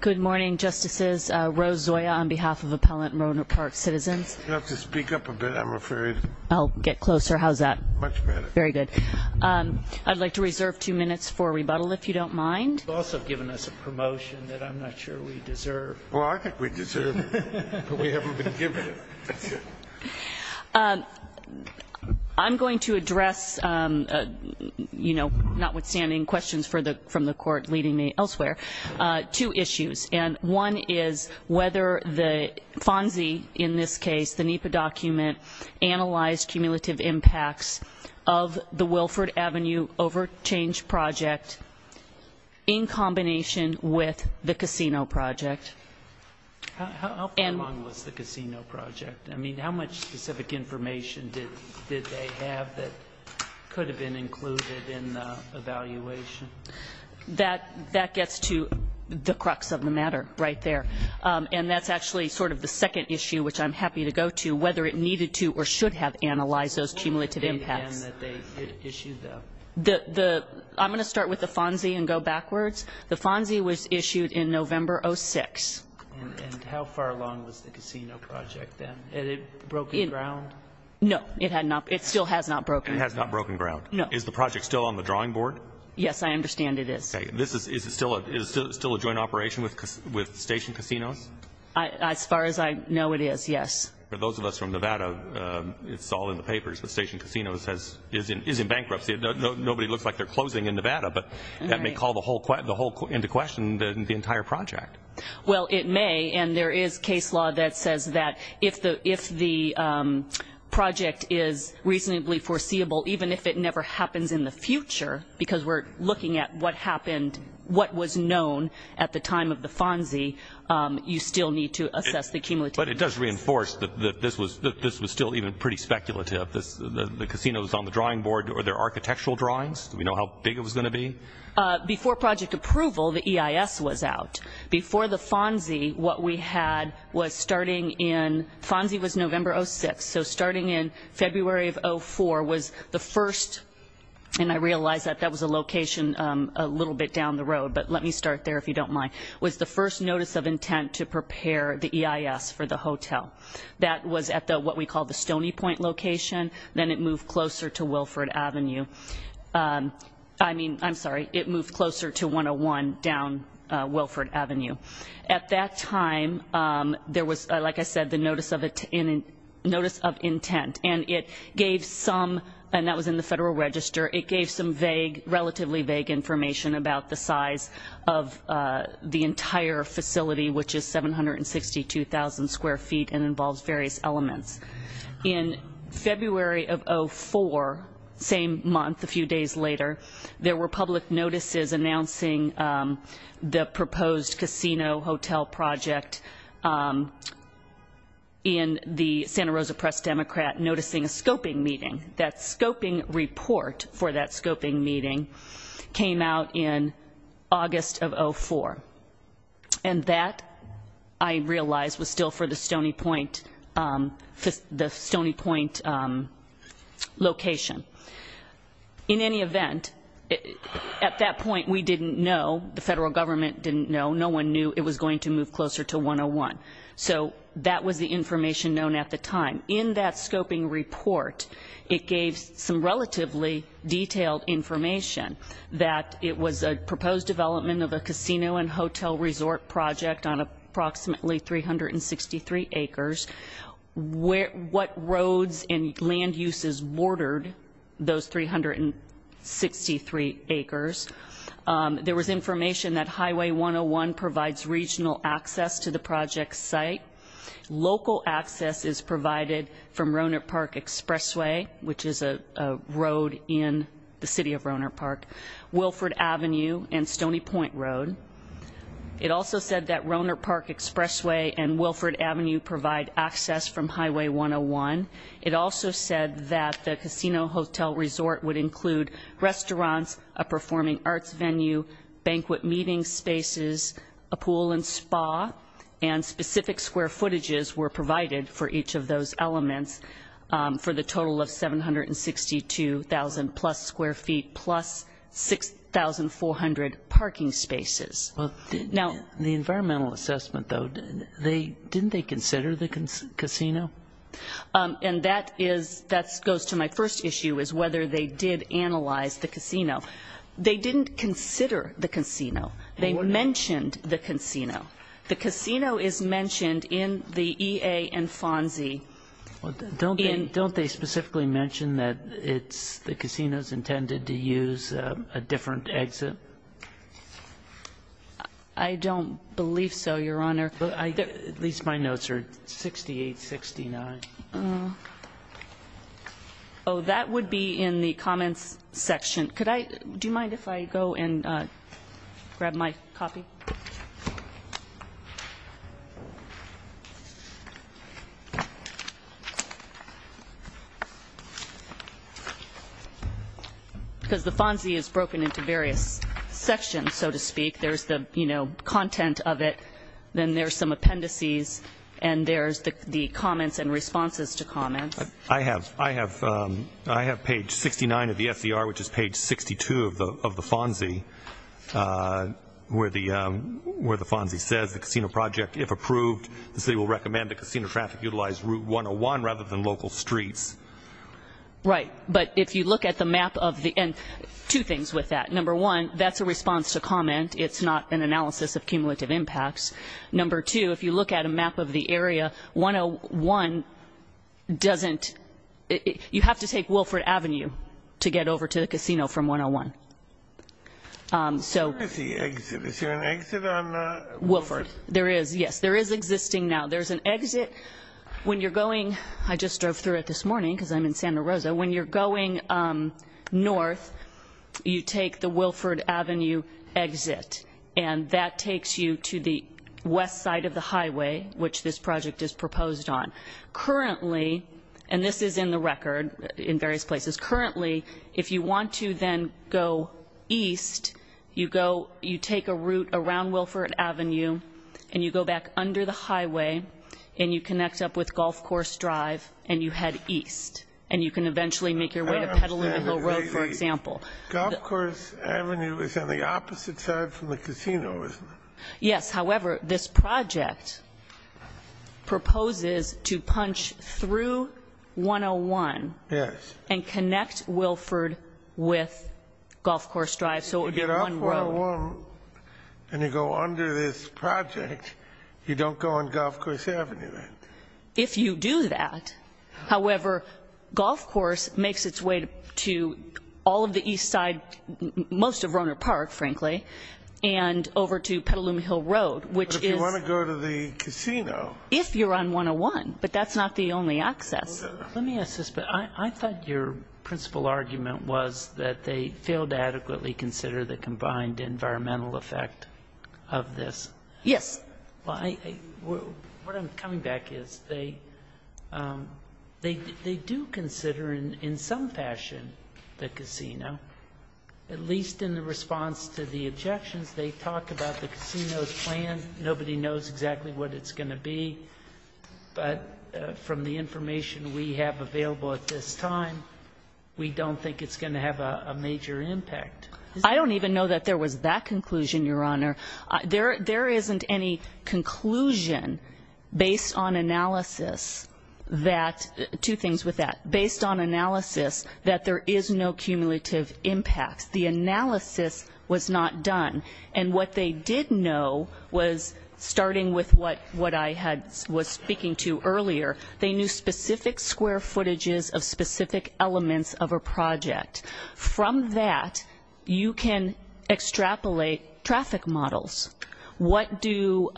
Good morning, Justices. Rose Zoya on behalf of Appellant Rohnert Park Citizens. You'll have to speak up a bit. I'm afraid I'll get closer. How's that? Much better. Very good. I'd like to reserve two minutes for rebuttal, if you don't mind. You've also given us a promotion that I'm not sure we deserve. Well, I think we deserve it, but we haven't been given it. I'm going to address, you know, notwithstanding questions from the court leading me elsewhere, two issues. And one is whether the FONSI, in this case, the NEPA document, analyzed cumulative impacts of the Wilford Avenue overchange project in combination with the casino project. How far along was the casino project? I mean, how much specific information did they have that could have been included in the evaluation? That gets to the crux of the matter right there. And that's actually sort of the second issue, which I'm happy to go to, whether it needed to or should have analyzed those cumulative impacts. I'm going to start with the FONSI and go backwards. The FONSI was issued in November 06. And how far along was the casino project then? Had it broken ground? No, it had not. It still has not broken. It has not broken ground. Is the project still on the drawing board? Yes, I understand it is. Is it still a joint operation with Station Casinos? As far as I know, it is, yes. For those of us from Nevada, it's all in the papers, but Station Casinos is in bankruptcy. Nobody looks like they're closing in Nevada, but that may call the whole into question, the entire project. Well, it may. And there is case law that says that if the project is reasonably foreseeable, even if it never happens in the future, because we're looking at what happened, what was known at the time of the FONSI, you still need to assess the cumulative impact. But it does reinforce that this was still even pretty speculative. The casino is on the drawing board. Were there architectural drawings? Do we know how big it was going to be? Before project approval, the EIS was out. Before the FONSI, what we had was starting in, FONSI was November 06, so starting in February of 04 was the first, and I realize that that was a location a little bit down the road, but let me start there if you don't mind, was the first notice of intent to prepare the EIS for the hotel. That was at what we call the Stony Point location. Then it moved closer to Wilford Avenue. I mean, I'm sorry, it moved closer to 101 down Wilford Avenue. At that time, there was, like I said, the notice of intent, and it gave some, and that was in the Federal Register, it gave some relatively vague information about the size of the entire facility, which is 762,000 square feet and involves various elements. In February of 04, same month, a few days later, there were public notices announcing the proposed casino hotel project in the Santa Rosa Press Democrat, noticing a scoping meeting. That scoping report for that scoping meeting came out in August of 04, and that, I realize, was still for the Stony Point location. In any event, at that point, we didn't know, the Federal Government didn't know, no one knew it was going to move closer to 101, so that was the information known at the time. In that scoping report, it gave some relatively detailed information that it was a proposed development of a casino and hotel resort project on approximately 363 acres, what roads and land uses bordered those 363 acres. There was information that Highway 101 provides regional access to the project site. Local access is provided from Rohnert Park Expressway, which is a road in the City of Santa Rosa. It also said that Rohnert Park Expressway and Wilford Avenue provide access from Highway 101. It also said that the casino hotel resort would include restaurants, a performing arts venue, banquet meeting spaces, a pool and spa, and specific square footages were provided for each of those elements for the total of 762,000 plus square feet plus 6,400 parking spaces. Now, the environmental assessment, though, didn't they consider the casino? And that goes to my first issue, is whether they did analyze the casino. They didn't consider the casino. They mentioned the casino. The casino is mentioned in the EA and FONSI. Don't they specifically mention that the casino is intended to use a different exit? I don't believe so, Your Honor. At least my notes are 68, 69. Oh, that would be in the comments section. Do you mind if I go and grab my copy? Okay. Because the FONSI is broken into various sections, so to speak. There's the, you know, content of it, then there's some appendices, and there's the comments and responses to comments. I have page 69 of the FCR, which is page 62 of the FONSI, where the FONSI says, the casino project, if approved, the city will recommend the casino traffic utilize route 101 rather than local streets. Right, but if you look at the map of the, and two things with that. Number one, that's a response to comment. It's not an analysis of cumulative impacts. Number two, if you look at a map of the area, 101 doesn't, you have to take Wilford Avenue to get over to the casino from 101. So, where is the exit? Is there an exit on Wilford? There is, yes. There is existing now. There's an exit when you're going, I just drove through it this morning because I'm in Santa Rosa. When you're going north, you take the Wilford Avenue exit, and that takes you to the west side of the highway, which this project is proposed on. Currently, and this is in the record in various places, currently, if you want to then go east, you go, you take a route around Wilford Avenue, and you go back under the highway, and you connect up with Golf Course Drive, and you head east, and you can eventually make your way to Petaluma Hill Road, for example. Golf Course Avenue is on the opposite side from the casino, isn't it? Yes, however, this project proposes to punch through 101. Yes. And connect Wilford with Golf Course Drive, so it would be one road. And you go under this project, you don't go on Golf Course Avenue then. If you do that, however, Golf Course makes its way to all of the east side, most of Rohnert Park, frankly, and over to Petaluma Hill Road, which is. But if you want to go to the casino. If you're on 101, but that's not the only access. Let me ask this, but I thought your principal argument was that they failed to adequately consider the combined environmental effect of this. Yes. Well, what I'm coming back is they do consider in some fashion the casino, at least in the response to the objections. They talk about the casino's plan. Nobody knows exactly what it's going to be. But from the information we have available at this time, we don't think it's going to have a major impact. I don't even know that there was that conclusion, Your Honor. There isn't any conclusion based on analysis that, two things with that, based on analysis that there is no cumulative impact. The analysis was not done. And what they did know was, starting with what I was speaking to earlier, they knew specific square footages of specific elements of a project. From that, you can extrapolate traffic models. What do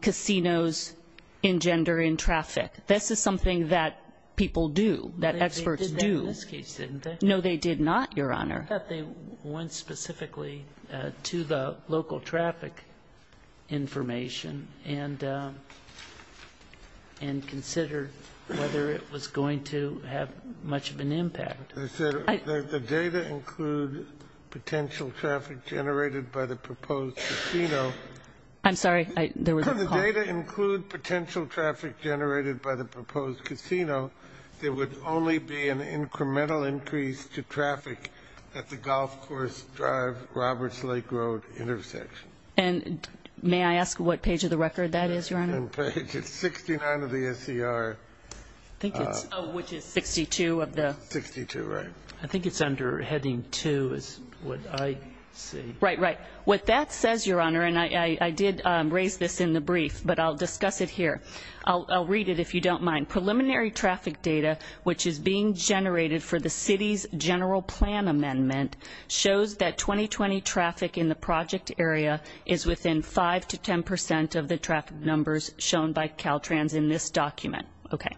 casinos engender in traffic? This is something that people do, that experts do. They did that in this case, didn't they? No, they did not, Your Honor. I thought they went specifically to the local traffic information and considered whether it was going to have much of an impact. The data include potential traffic generated by the proposed casino. I'm sorry, there was a call. The data include potential traffic generated by the proposed casino. There would only be an incremental increase to traffic at the Golf Course Drive-Roberts Lake Road intersection. And may I ask what page of the record that is, Your Honor? Page 69 of the SCR. I think it's, oh, which is 62 of the. 62, right. I think it's under heading two is what I see. Right, right. What that says, Your Honor, and I did raise this in the brief, but I'll discuss it here. I'll read it if you don't mind. Preliminary traffic data, which is being generated for the city's general plan amendment, shows that 2020 traffic in the project area is within 5 to 10% of the traffic numbers shown by Caltrans in this document. Okay.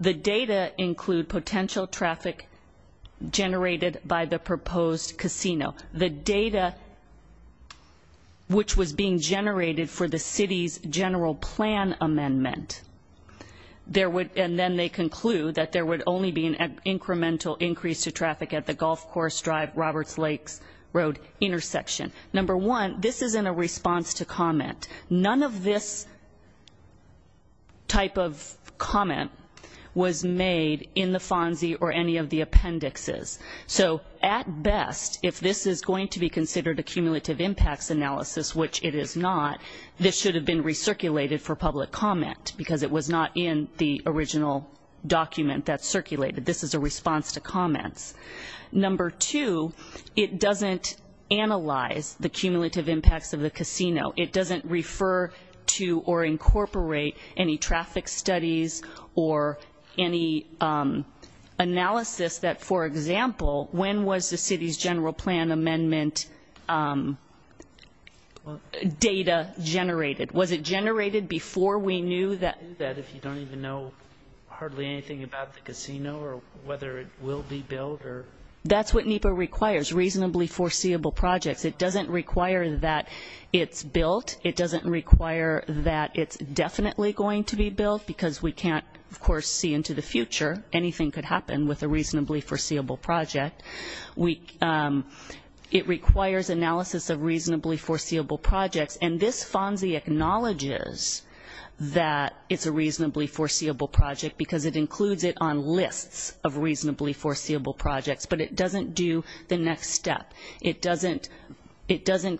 The data include potential traffic generated by the proposed casino. The data, which was being generated for the city's general plan amendment, there would, and then they conclude that there would only be an incremental increase to traffic at the Golf Course Drive-Roberts Lake Road intersection. Number one, this isn't a response to comment. None of this type of comment was made in the FONSI or any of the appendixes. So at best, if this is going to be considered a cumulative impacts analysis, which it is not, this should have been recirculated for public comment because it was not in the original document that circulated. This is a response to comments. Number two, it doesn't analyze the cumulative impacts of the casino. It doesn't refer to or incorporate any traffic studies or any analysis that, for example, when was the city's general plan amendment data generated? Was it generated before we knew that? If you don't even know hardly anything about the casino or whether it will be built or... That's what NEPA requires, reasonably foreseeable projects. It doesn't require that it's built. It doesn't require that it's definitely going to be built because we can't, of course, see into the future. Anything could happen with a reasonably foreseeable project. It requires analysis of reasonably foreseeable projects, and this FONSI acknowledges that it's a reasonably foreseeable project because it includes it on lists of reasonably foreseeable projects, but it doesn't do the next step. It doesn't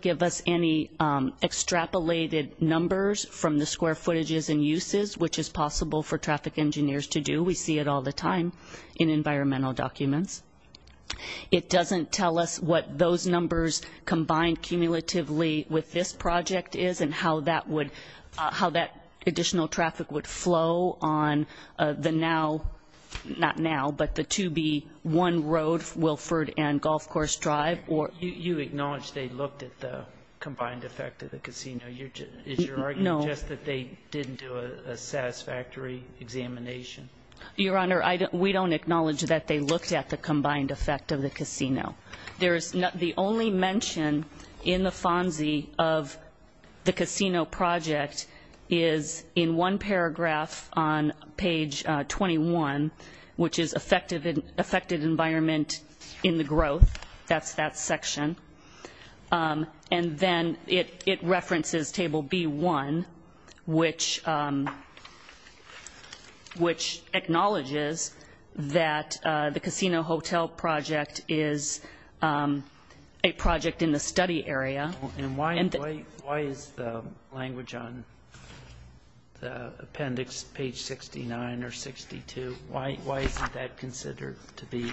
give us any extrapolated numbers from the square footages and uses, which is possible for traffic engineers to do. We see it all the time in environmental documents. It doesn't tell us what those numbers combined cumulatively with this project is and how that additional traffic would flow on the now, not now, but the 2B1 road, Wilford and You acknowledge they looked at the combined effect of the casino. Is your argument just that they didn't do a satisfactory examination? Your Honor, we don't acknowledge that they looked at the combined effect of the casino. There is the only mention in the FONSI of the casino project is in one paragraph on page 21, which is affected environment in the growth. That's that section, and then it references table B1, which acknowledges that the casino hotel project is a project in the study area. And why is the language on the appendix page 69 or 62, why isn't that considered to be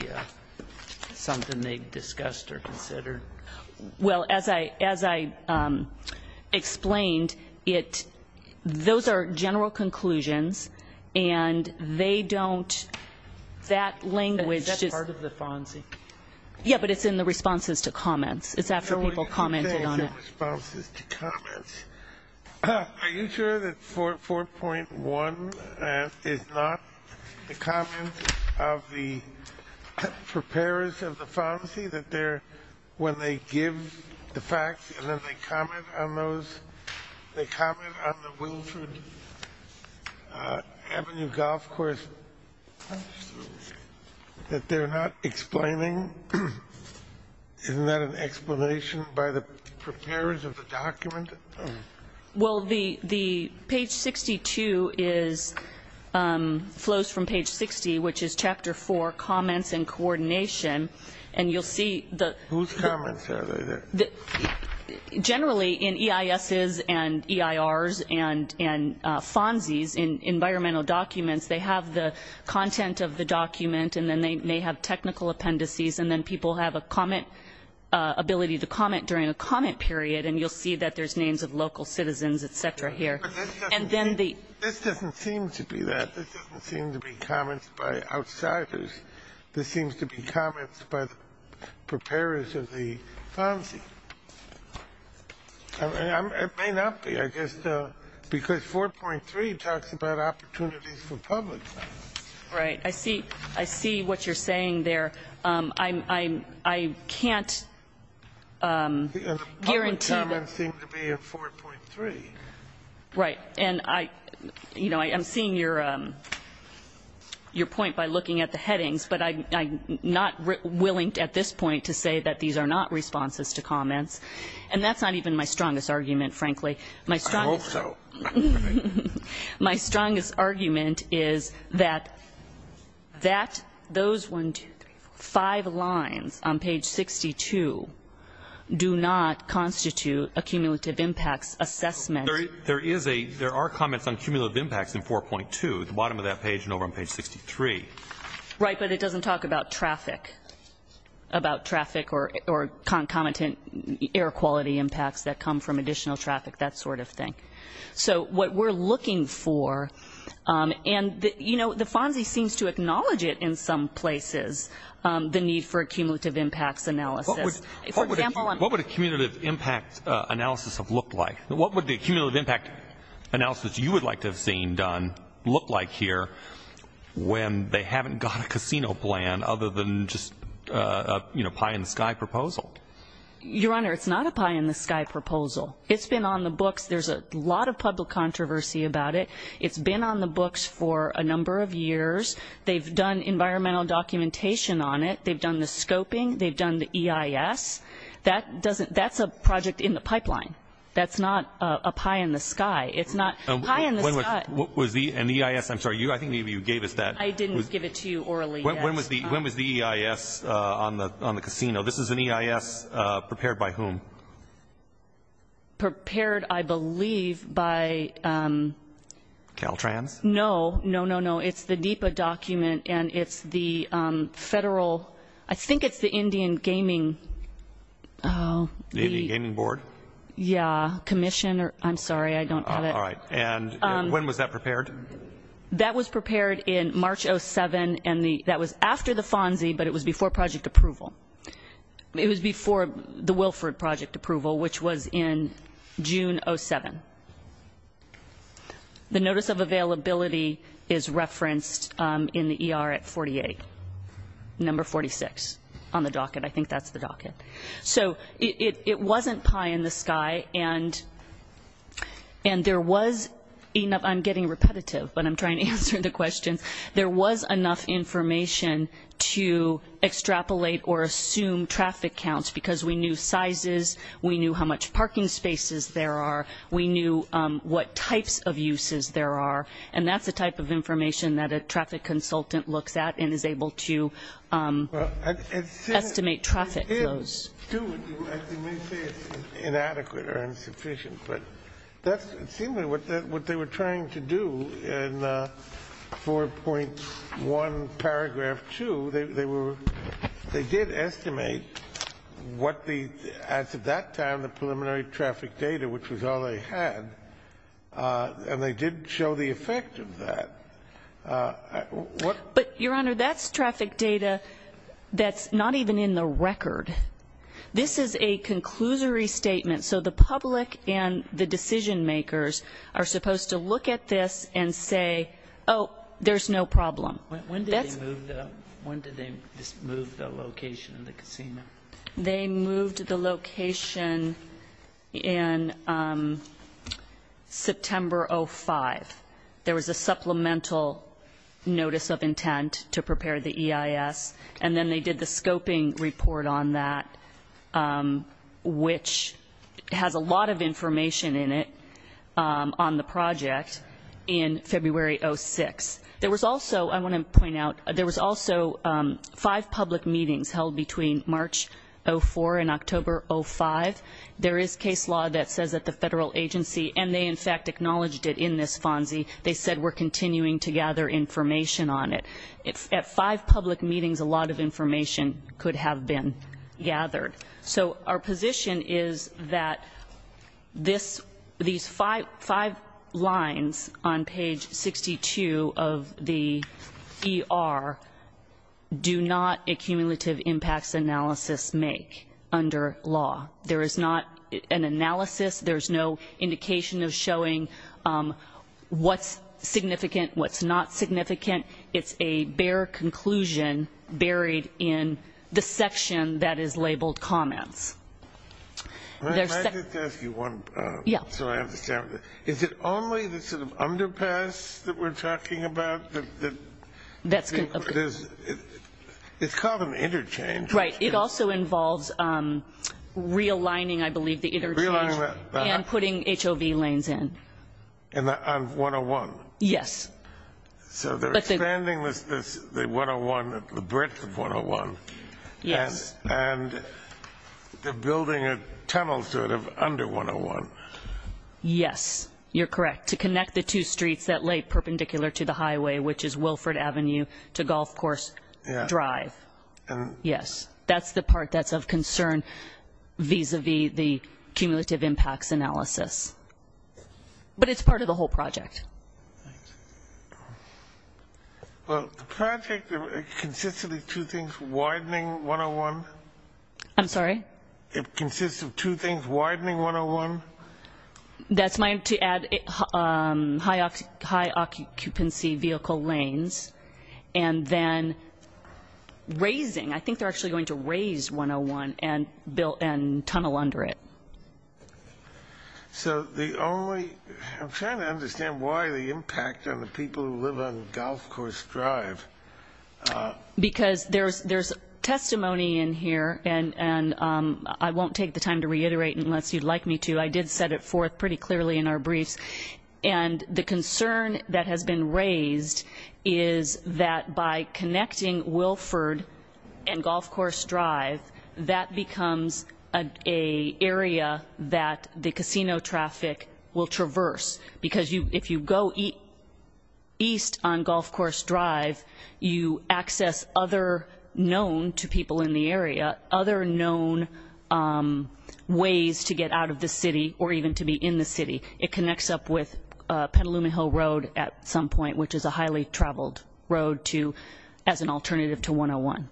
something they discussed or considered? Well, as I explained, those are general conclusions, and they don't, that language. Is that part of the FONSI? Yeah, but it's in the responses to comments. It's after people commented on it. It's in the responses to comments. Are you sure that 4.1 is not the comment of the preparers of the FONSI that they're, when they give the facts and then they comment on those, they comment on the Wilford Avenue golf course, that they're not explaining? Isn't that an explanation by the preparers of the document? Well, the page 62 is, flows from page 60, which is chapter 4, comments and coordination. And you'll see the... Whose comments are they? Generally, in EISs and EIRs and FONSIs, in environmental documents, they have the content of the document, and then they may have technical appendices, and then people have a comment, ability to comment during a comment period. And you'll see that there's names of local citizens, et cetera, here. And then the... This doesn't seem to be that. This doesn't seem to be comments by outsiders. This seems to be comments by the preparers of the FONSI. It may not be, I guess, because 4.3 talks about opportunities for public. Right. I see what you're saying there. I can't guarantee... The public comments seem to be in 4.3. Right. And I, you know, I'm seeing your point by looking at the headings, but I'm not willing at this point to say that these are not responses to comments. And that's not even my strongest argument, frankly. I hope so. Right. My strongest argument is that those one, two, three, four, five lines on page 62 do not constitute a cumulative impacts assessment. There is a... There are comments on cumulative impacts in 4.2 at the bottom of that page and over on page 63. Right. But it doesn't talk about traffic, about traffic or concomitant air quality impacts that come from additional traffic, that sort of thing. So what we're looking for, and, you know, the FONSI seems to acknowledge it in some places, the need for a cumulative impacts analysis. What would a cumulative impact analysis have looked like? What would the cumulative impact analysis you would like to have seen done look like here when they haven't got a casino plan other than just a pie in the sky proposal? Your Honor, it's not a pie in the sky proposal. It's been on the books. There's a lot of public controversy about it. It's been on the books for a number of years. They've done environmental documentation on it. They've done the scoping. They've done the EIS. That doesn't... That's a project in the pipeline. That's not a pie in the sky. It's not a pie in the sky. What was the... And the EIS, I'm sorry, I think maybe you gave us that. I didn't give it to you orally. When was the EIS on the casino? This is an EIS prepared by whom? Prepared, I believe, by... Caltrans? No, no, no, no. It's the NEPA document and it's the federal... I think it's the Indian Gaming... The Indian Gaming Board? Yeah, commission or... I'm sorry, I don't have it. All right. And when was that prepared? That was prepared in March of 2007 and that was after the FONSI, but it was before project approval. It was before the Wilford project. Approval, which was in June 07. The notice of availability is referenced in the ER at 48, number 46 on the docket. I think that's the docket. So it wasn't pie in the sky and there was enough... I'm getting repetitive, but I'm trying to answer the questions. There was enough information to extrapolate or assume traffic counts because we knew sizes. We knew how much parking spaces there are. We knew what types of uses there are. And that's the type of information that a traffic consultant looks at and is able to estimate traffic flows. I may say it's inadequate or insufficient, but that's seemingly what they were trying to do in 4.1 paragraph 2. They did estimate what the... As of that time, the preliminary traffic data, which was all they had, and they did show the effect of that. But Your Honor, that's traffic data that's not even in the record. This is a conclusory statement. So the public and the decision makers are supposed to look at this and say, oh, there's no problem. When did they move the location of the casino? They moved the location in September 05. There was a supplemental notice of intent to prepare the EIS. And then they did the scoping report on that, which has a lot of information in it on the project in February 06. There was also, I want to point out, there was also five public meetings held between March 04 and October 05. There is case law that says that the federal agency, and they in fact acknowledged it in this FONSI, they said we're continuing to gather information on it. At five public meetings, a lot of information could have been gathered. So our position is that these five lines on page 62 of the ER do not accumulative impacts analysis make under law. There is not an analysis. There's no indication of showing what's significant, what's not significant. It's a bare conclusion buried in the section that is labeled comments. I just wanted to ask you one, so I understand. Is it only the sort of underpass that we're talking about? It's called an interchange. Right. It also involves realigning, I believe, the interchange and putting HOV lanes in. On 101? Yes. So they're expanding the 101, the breadth of 101. Yes. And they're building a tunnel sort of under 101. Yes, you're correct. To connect the two streets that lay perpendicular to the highway, which is Wilford Avenue to Golf Course Drive. Yes. That's the part that's of concern vis-a-vis the accumulative impacts analysis. But it's part of the whole project. Well, the project, it consists of two things, widening 101. I'm sorry? It consists of two things, widening 101. That's to add high occupancy vehicle lanes and then raising. I think they're actually going to raise 101 and tunnel under it. I'm trying to understand why the impact on the people who live on Golf Course Drive. Because there's testimony in here, and I won't take the time to reiterate unless you'd like me to. I did set it forth pretty clearly in our briefs. And the concern that has been raised is that by connecting Wilford and Golf Course Drive, that becomes an area that the casino traffic will traverse. Because if you go east on Golf Course Drive, you access other known to people in the area, other known ways to get out of the city or even to be in the city. It connects up with Petaluma Hill Road at some point, which is a highly traveled road as an alternative to 101.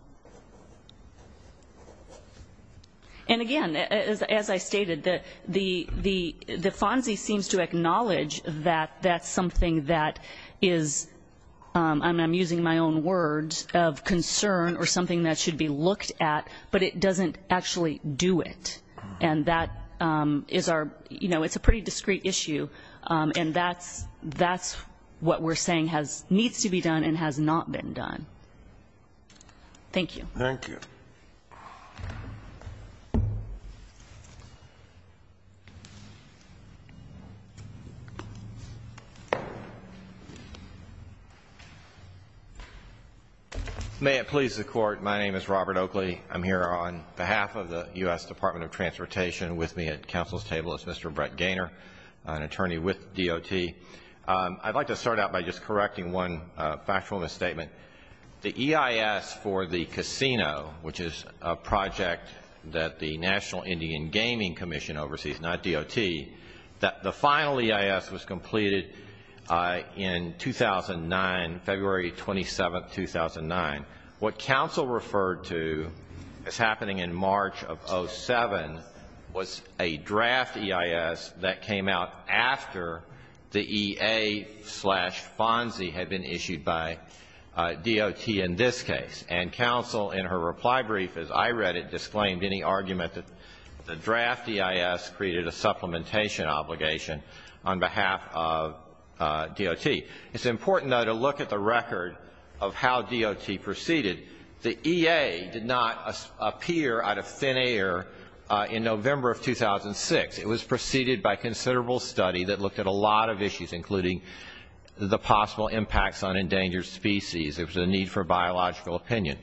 And, again, as I stated, the FONSI seems to acknowledge that that's something that is, and I'm using my own words, of concern or something that should be looked at, but it doesn't actually do it. And that is our, you know, it's a pretty discrete issue. And that's what we're saying needs to be done and has not been done. Thank you. Thank you. Thank you. May it please the Court. My name is Robert Oakley. I'm here on behalf of the U.S. Department of Transportation. With me at Council's table is Mr. Brett Gaynor, an attorney with DOT. I'd like to start out by just correcting one factual misstatement. The EIS for the casino, which is a project that the National Indian Gaming Commission oversees, not DOT, the final EIS was completed in 2009, February 27, 2009. What Council referred to as happening in March of 07 was a draft EIS that came out after the EA-FONSI had been issued by DOT in this case. And Council, in her reply brief, as I read it, disclaimed any argument that the draft EIS created a supplementation obligation on behalf of DOT. It's important, though, to look at the record of how DOT proceeded. The EA did not appear out of thin air in November of 2006. It was preceded by considerable study that looked at a lot of issues, including the possible impacts on endangered species. There was a need for biological opinion.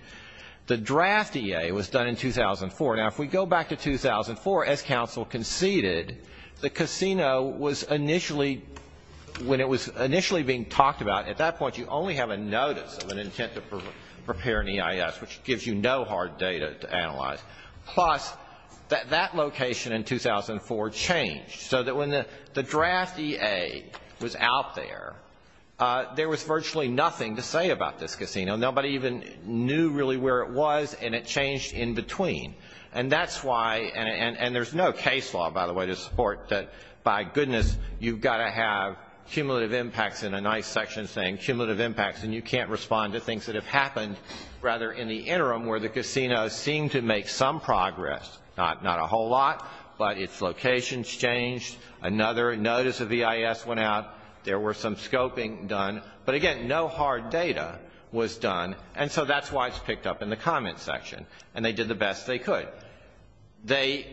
The draft EA was done in 2004. Now, if we go back to 2004, as Council conceded, the casino was initially, when it was initially being talked about, at that point you only have a notice of an intent to prepare an EIS, which gives you no hard data to analyze. Plus, that location in 2004 changed so that when the draft EA was out there, there was virtually nothing to say about this casino. Nobody even knew really where it was, and it changed in between. And that's why, and there's no case law, by the way, to support that, by goodness, you've got to have cumulative impacts in a nice section saying cumulative impacts, and you can't respond to things that have happened, rather, in the interim where the casino seemed to make some progress, not a whole lot, but its locations changed, another notice of EIS went out, there were some scoping done, but again, no hard data was done, and so that's why it's picked up in the comment section, and they did the best they could. They,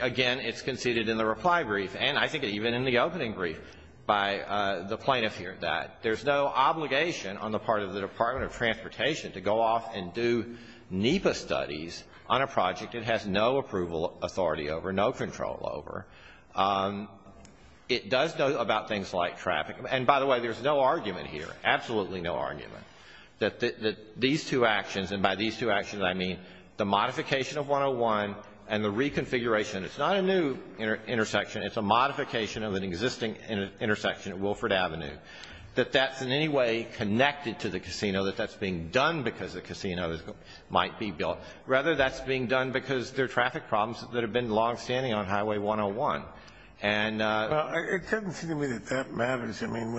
again, it's conceded in the reply brief, and I think even in the opening brief by the plaintiff here that there's no obligation on the part of the Department of Transportation to go off and do NEPA studies on a project it has no approval authority over, no control over. It does know about things like traffic, and by the way, there's no argument here, absolutely no argument, that these two actions, and by these two actions, I mean the modification of 101 and the reconfiguration, it's not a new intersection, it's a modification of an existing intersection that's being done because the casino might be built, rather that's being done because there are traffic problems that have been longstanding on Highway 101, and Well, it doesn't seem to me that that matters, I mean,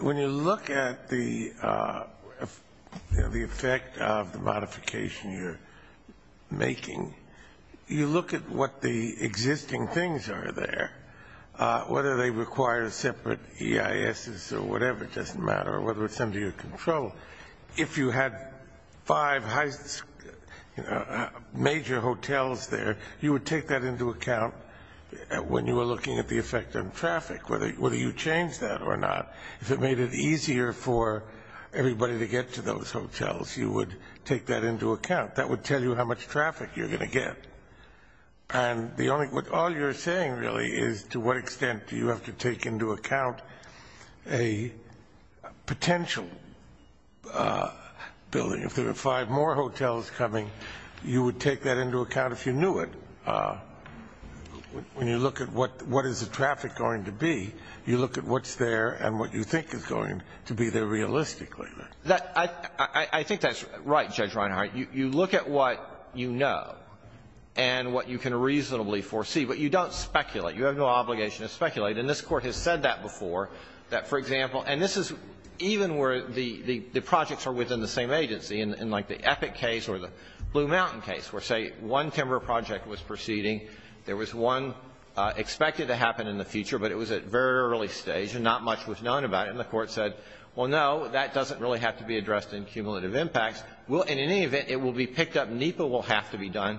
when you look at the effect of the modification you're making, you look at what the existing things are there, whether they require separate EISs or whatever, it doesn't matter, whether it's under your control, if you had five major hotels there, you would take that into account when you were looking at the effect on traffic, whether you change that or not, if it made it easier for everybody to get to those hotels, you would take that into account, that would tell you how much traffic you're going to get, and all you're saying really is to what extent do you have to take into account a potential building, if there are five more hotels coming, you would take that into account if you knew it, when you look at what is the traffic going to be, you look at what's there and what you think is going to be there realistically. I think that's right, Judge Reinhart, you look at what you know, and what you can reasonably foresee, but you don't speculate, you have no obligation to speculate, and this Court has said that before, that for example, and this is even where the projects are within the same agency, in like the Epic case or the Blue Mountain case, where say one timber project was proceeding, there was one expected to happen in the future, but it was at very early stage and not much was known about it, and the Court said, well, no, that doesn't really have to be addressed in cumulative impacts, in any event, it will be picked up, NEPA will have to be done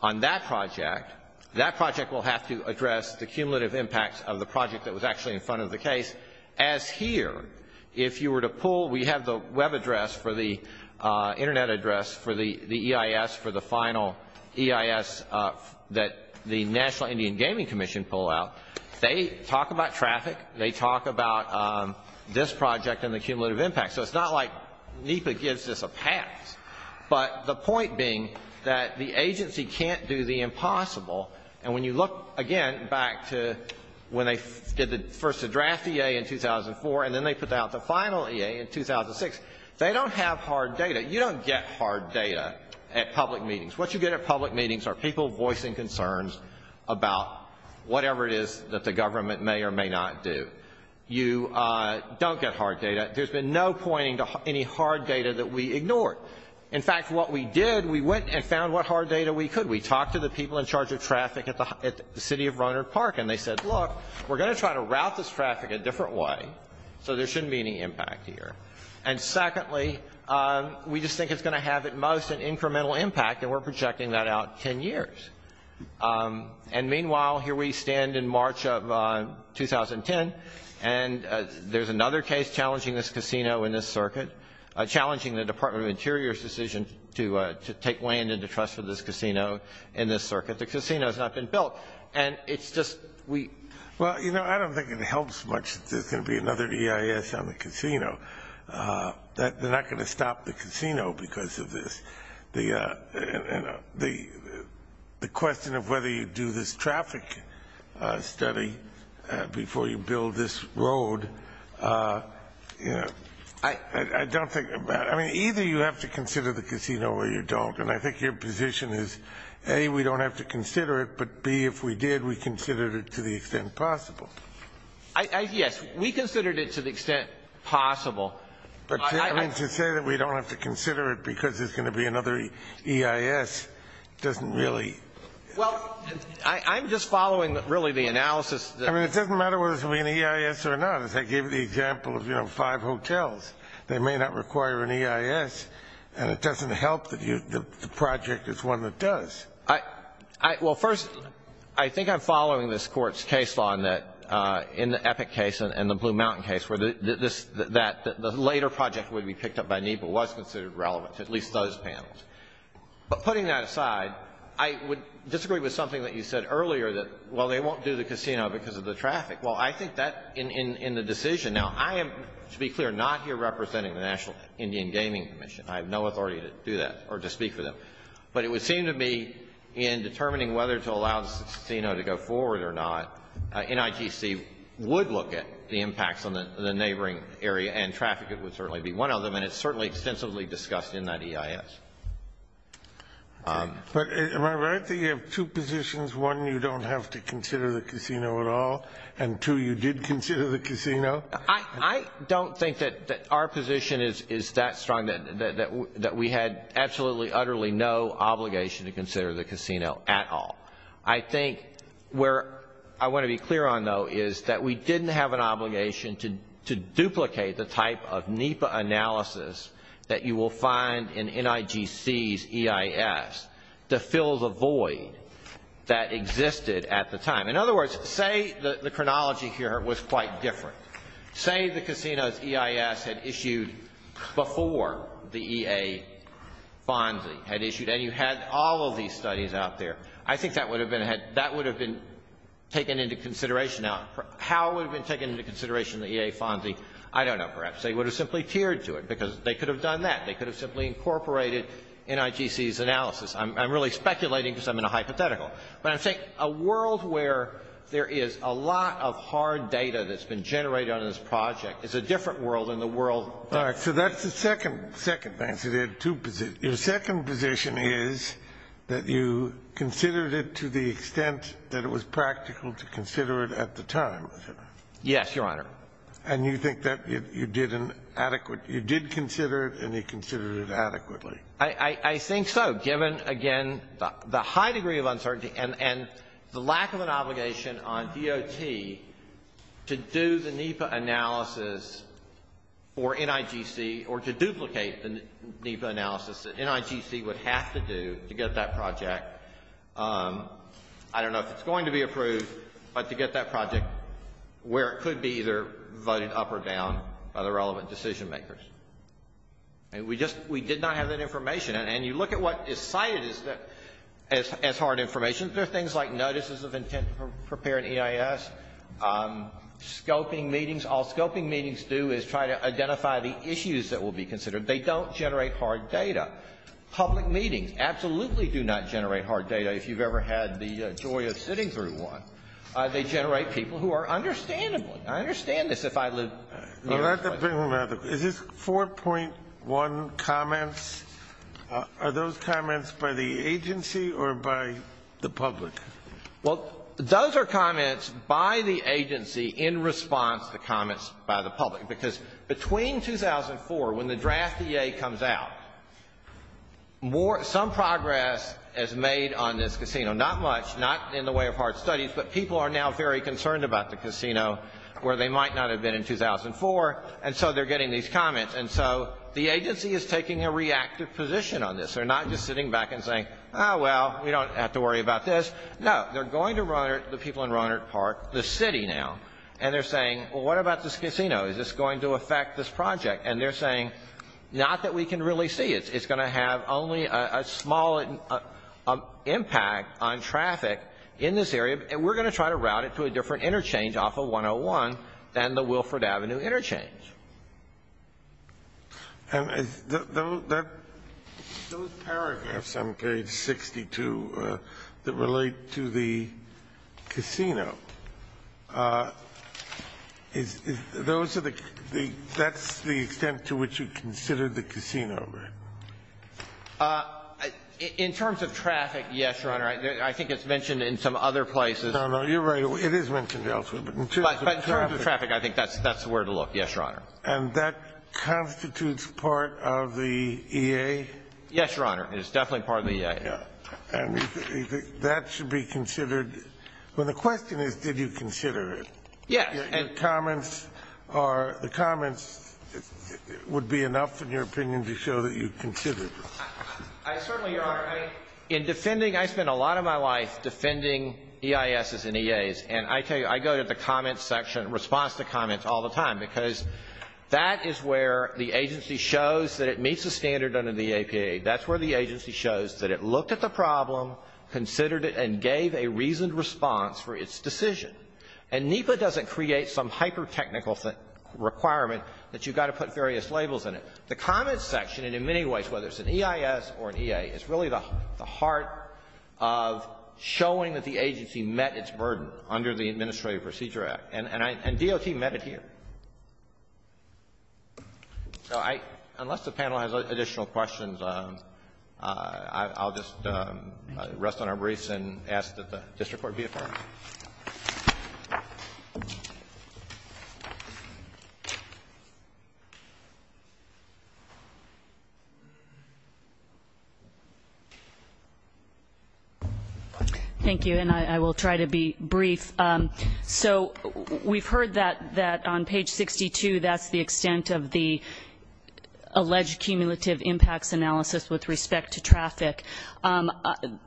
on that project, that project will have to address the cumulative impacts of the project that was actually in front of the case, as here, if you were to pull, we have the web address for the internet address for the EIS, for the final EIS that the National Indian Gaming Commission pull out, they talk about traffic, they talk about this project and the cumulative impact, so it's not like NEPA gives this a pass, but the point being that the agency can't do the impossible, and when you look again back to when they did the first draft EA in 2004, and then they put out the final EA in 2006, they don't have hard data, you don't get hard data at public meetings, what you get at public meetings are people voicing concerns about whatever it is that the government may or may not do, you don't get hard data, there's been no pointing to any hard data that we ignored, in fact, what we did, we went and found what hard data we could, we talked to the people in charge of traffic at the city of Rohnert Park, and they said, look, we're going to try to route this traffic a different way, so there shouldn't be any impact here, and secondly, we just think it's going to have at most an incremental impact, and we're projecting that out 10 years, and meanwhile, here we stand in March of 2010, and there's another case challenging this casino in this circuit, challenging the Department of Interior's decision to take land into trust for this casino in this circuit, the casino has not been built, and it's just, we... Well, you know, I don't think it helps much that there's going to be another EIS on the casino, that they're not going to stop the casino because of this, the question of whether you do this traffic study before you build this road, you know, I don't think about it, I mean, either you have to consider the casino or you don't, and I think your position is, A, we don't have to consider it, but B, if we did, we considered it to the extent possible. Yes, we considered it to the extent possible. But I mean, to say that we don't have to consider it because there's going to be another EIS doesn't really... Well, I'm just following really the analysis... I mean, it doesn't matter whether it's going to be an EIS or not, the example of, you know, five hotels, they may not require an EIS, and it doesn't help that the project is one that does. Well, first, I think I'm following this Court's case law in the Epic case and the Blue Mountain case where the later project would be picked up by NEPA was considered relevant to at least those panels. But putting that aside, I would disagree with something that you said earlier, that, well, they won't do the casino because of the traffic. Well, I think that in the decision... Now, I am, to be clear, not here representing the National Indian Gaming Commission. I have no authority to do that or to speak for them. But it would seem to me in determining whether to allow the casino to go forward or not, NIGC would look at the impacts on the neighboring area and traffic would certainly be one of them, and it's certainly extensively discussed in that EIS. But am I right that you have two positions? One, you don't have to consider the casino at all, and two, you did consider the casino? I don't think that our position is that strong, that we had absolutely, utterly no obligation to consider the casino at all. I think where I want to be clear on, though, is that we didn't have an obligation to duplicate the type of NEPA analysis that you will find in NIGC's EIS to fill the void that existed at the time. In other words, say the chronology here was quite different. Say the casino's EIS had issued before the EA Fonzi had issued and you had all of these studies out there. I think that would have been taken into consideration. Now, how it would have been taken into consideration, the EA Fonzi, I don't know. Perhaps they would have simply tiered to it because they could have done that. They could have simply incorporated NIGC's analysis. I'm really speculating because I'm in a hypothetical. But I think a world where there is a lot of hard data that's been generated on this project is a different world than the world that we're in. All right. So that's the second thing. Your second position is that you considered it to the extent that it was practical to consider it at the time, is that right? Yes, Your Honor. And you think that you did an adequate — you did consider it and you considered it adequately? I think so, given, again, the high degree of uncertainty and the lack of an obligation on DOT to do the NEPA analysis for NIGC or to duplicate the NEPA analysis that NIGC would have to do to get that project. I don't know if it's going to be approved, but to get that project where it could be either voted up or down by the relevant decision makers. And we just — we did not have that information. And you look at what is cited as hard information. There are things like notices of intent to prepare an EIS, scoping meetings. All scoping meetings do is try to identify the issues that will be considered. They don't generate hard data. Public meetings absolutely do not generate hard data if you've ever had the joy of sitting through one. They generate people who are understandable. I understand this if I live — Is this 4.1 comments? Are those comments by the agency or by the public? Well, those are comments by the agency in response to comments by the public. Because between 2004, when the draft EA comes out, some progress is made on this casino. Not much, not in the way of hard studies, but people are now very concerned about the casino where they might not have been in 2004. So they're getting these comments. And so the agency is taking a reactive position on this. They're not just sitting back and saying, oh, well, we don't have to worry about this. No, they're going to run it — the people in Rohnert Park, the city now. And they're saying, well, what about this casino? Is this going to affect this project? And they're saying, not that we can really see it. It's going to have only a small impact on traffic in this area. We're going to try to route it to a different interchange off of 101 than the Wilfrid Avenue interchange. And those paragraphs on page 62 that relate to the casino, is those the — that's the extent to which you consider the casino, right? In terms of traffic, yes, Your Honor. I think it's mentioned in some other places. No, no, you're right. It is mentioned elsewhere. But in terms of traffic — But in terms of traffic, I think that's where to look. Yes, Your Honor. And that constitutes part of the EA? Yes, Your Honor. It is definitely part of the EA. Yeah. And that should be considered — well, the question is, did you consider it? Yes. Your comments are — the comments would be enough, in your opinion, to show that you considered it. I certainly, Your Honor — in defending — I spent a lot of my life defending EISs and EAs. And I tell you, I go to the comments section, response to comments all the time, because that is where the agency shows that it meets the standard under the APA. That's where the agency shows that it looked at the problem, considered it, and gave a reasoned response for its decision. And NEPA doesn't create some hyper-technical requirement that you've got to put various labels in it. The comments section, and in many ways, whether it's an EIS or an EA, is really the heart of showing that the agency met its burden under the Administrative Procedure Act. And DOT met it here. So I — unless the panel has additional questions, I'll just rest on our briefs and ask that the District Court be affirmed. Thank you. And I will try to be brief. So we've heard that on page 62, that's the extent of the alleged cumulative impacts analysis with respect to traffic.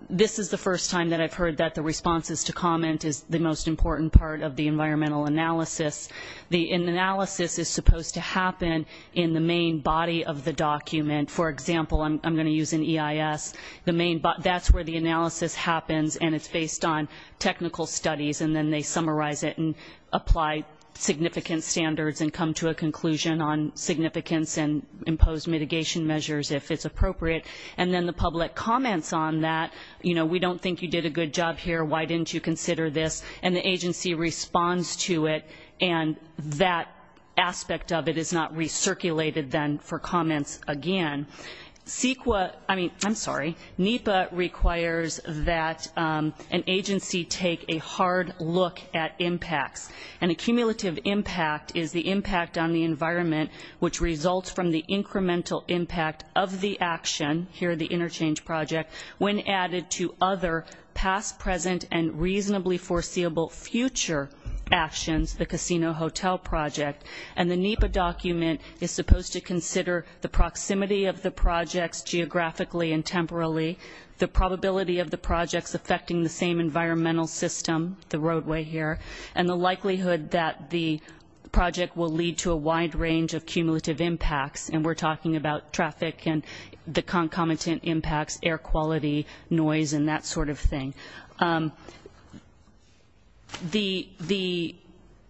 This is the first time that I've heard that the responses to comment is the most important part of the environmental analysis. The analysis is supposed to happen in the main body of the document. For example, I'm going to use an EIS. The main — that's where the analysis happens, and it's based on technical studies. And then they summarize it and apply significant standards and come to a conclusion on significance and impose mitigation measures, if it's appropriate. And then the public comments on that — you know, we don't think you did a good job here. Why didn't you consider this? And the agency responds to it, and that aspect of it is not recirculated then for comments again. CEQA — I mean, I'm sorry. NEPA requires that an agency take a hard look at impacts. An accumulative impact is the impact on the environment which results from the incremental impact of the action — here, the interchange project — when added to other past, present, and reasonably foreseeable future actions — the casino hotel project. And the NEPA document is supposed to consider the proximity of the projects geographically and temporally, the probability of the projects affecting the same environmental system — the roadway here — and the likelihood that the project will lead to a wide range of cumulative impacts — and we're talking about traffic and the concomitant impacts, air quality, noise, and that sort of thing. The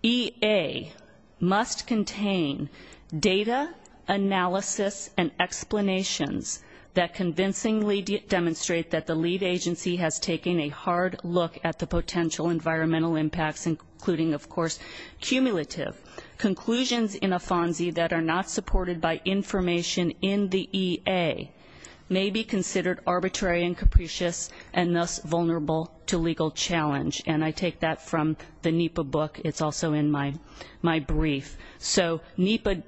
EA must contain data analysis and explanations that convincingly demonstrate that the lead agency has taken a hard look at the potential environmental impacts, including, of course, cumulative conclusions in a FONSI that are not supported by information in the EA may be considered arbitrary and capricious and thus vulnerable to legal challenge. And I take that from the NEPA book. It's also in my brief. So NEPA —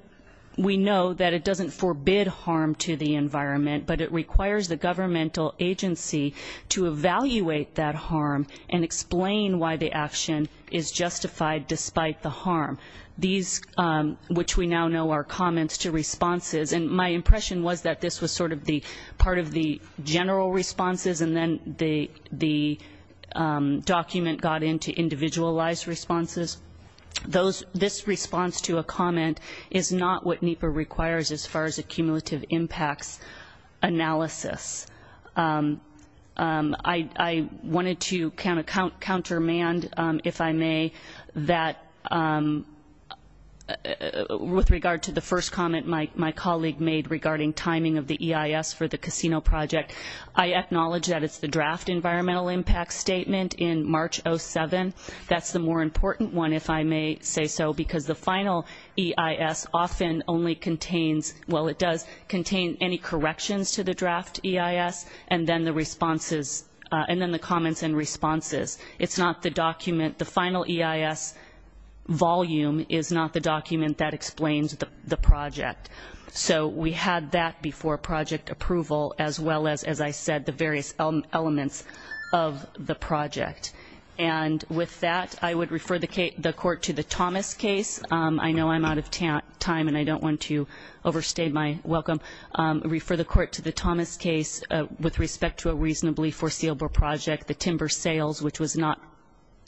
we know that it doesn't forbid harm to the environment, but it requires the governmental agency to evaluate that harm and explain why the action is justified despite the harm. These — which we now know are comments to responses — and my impression was that this was sort of the part of the general responses, and then the document got into individualized responses. This response to a comment is not what NEPA requires as far as a cumulative impacts analysis. I wanted to countermand, if I may, that — with regard to the first comment my colleague made regarding timing of the EIS for the casino project. I acknowledge that it's the draft environmental impact statement in March 2007. That's the more important one, if I may say so, because the final EIS often only contains — well, it does contain any corrections to the draft EIS and then the responses — and then the comments and responses. It's not the document — the final EIS volume is not the document that explains the project. So we had that before project approval, as well as, as I said, the various elements of the project. And with that, I would refer the court to the Thomas case. I know I'm out of time, and I don't want to overstate my welcome. Refer the court to the Thomas case with respect to a reasonably foreseeable project, the timber sales, which was not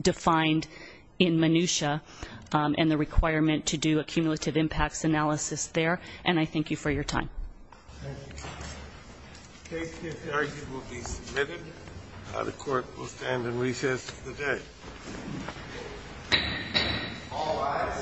defined in minutia, and the requirement to do a cumulative impacts analysis there. And I thank you for your time. Thank you. The case to be argued will be submitted. The court will stand in recess for the day.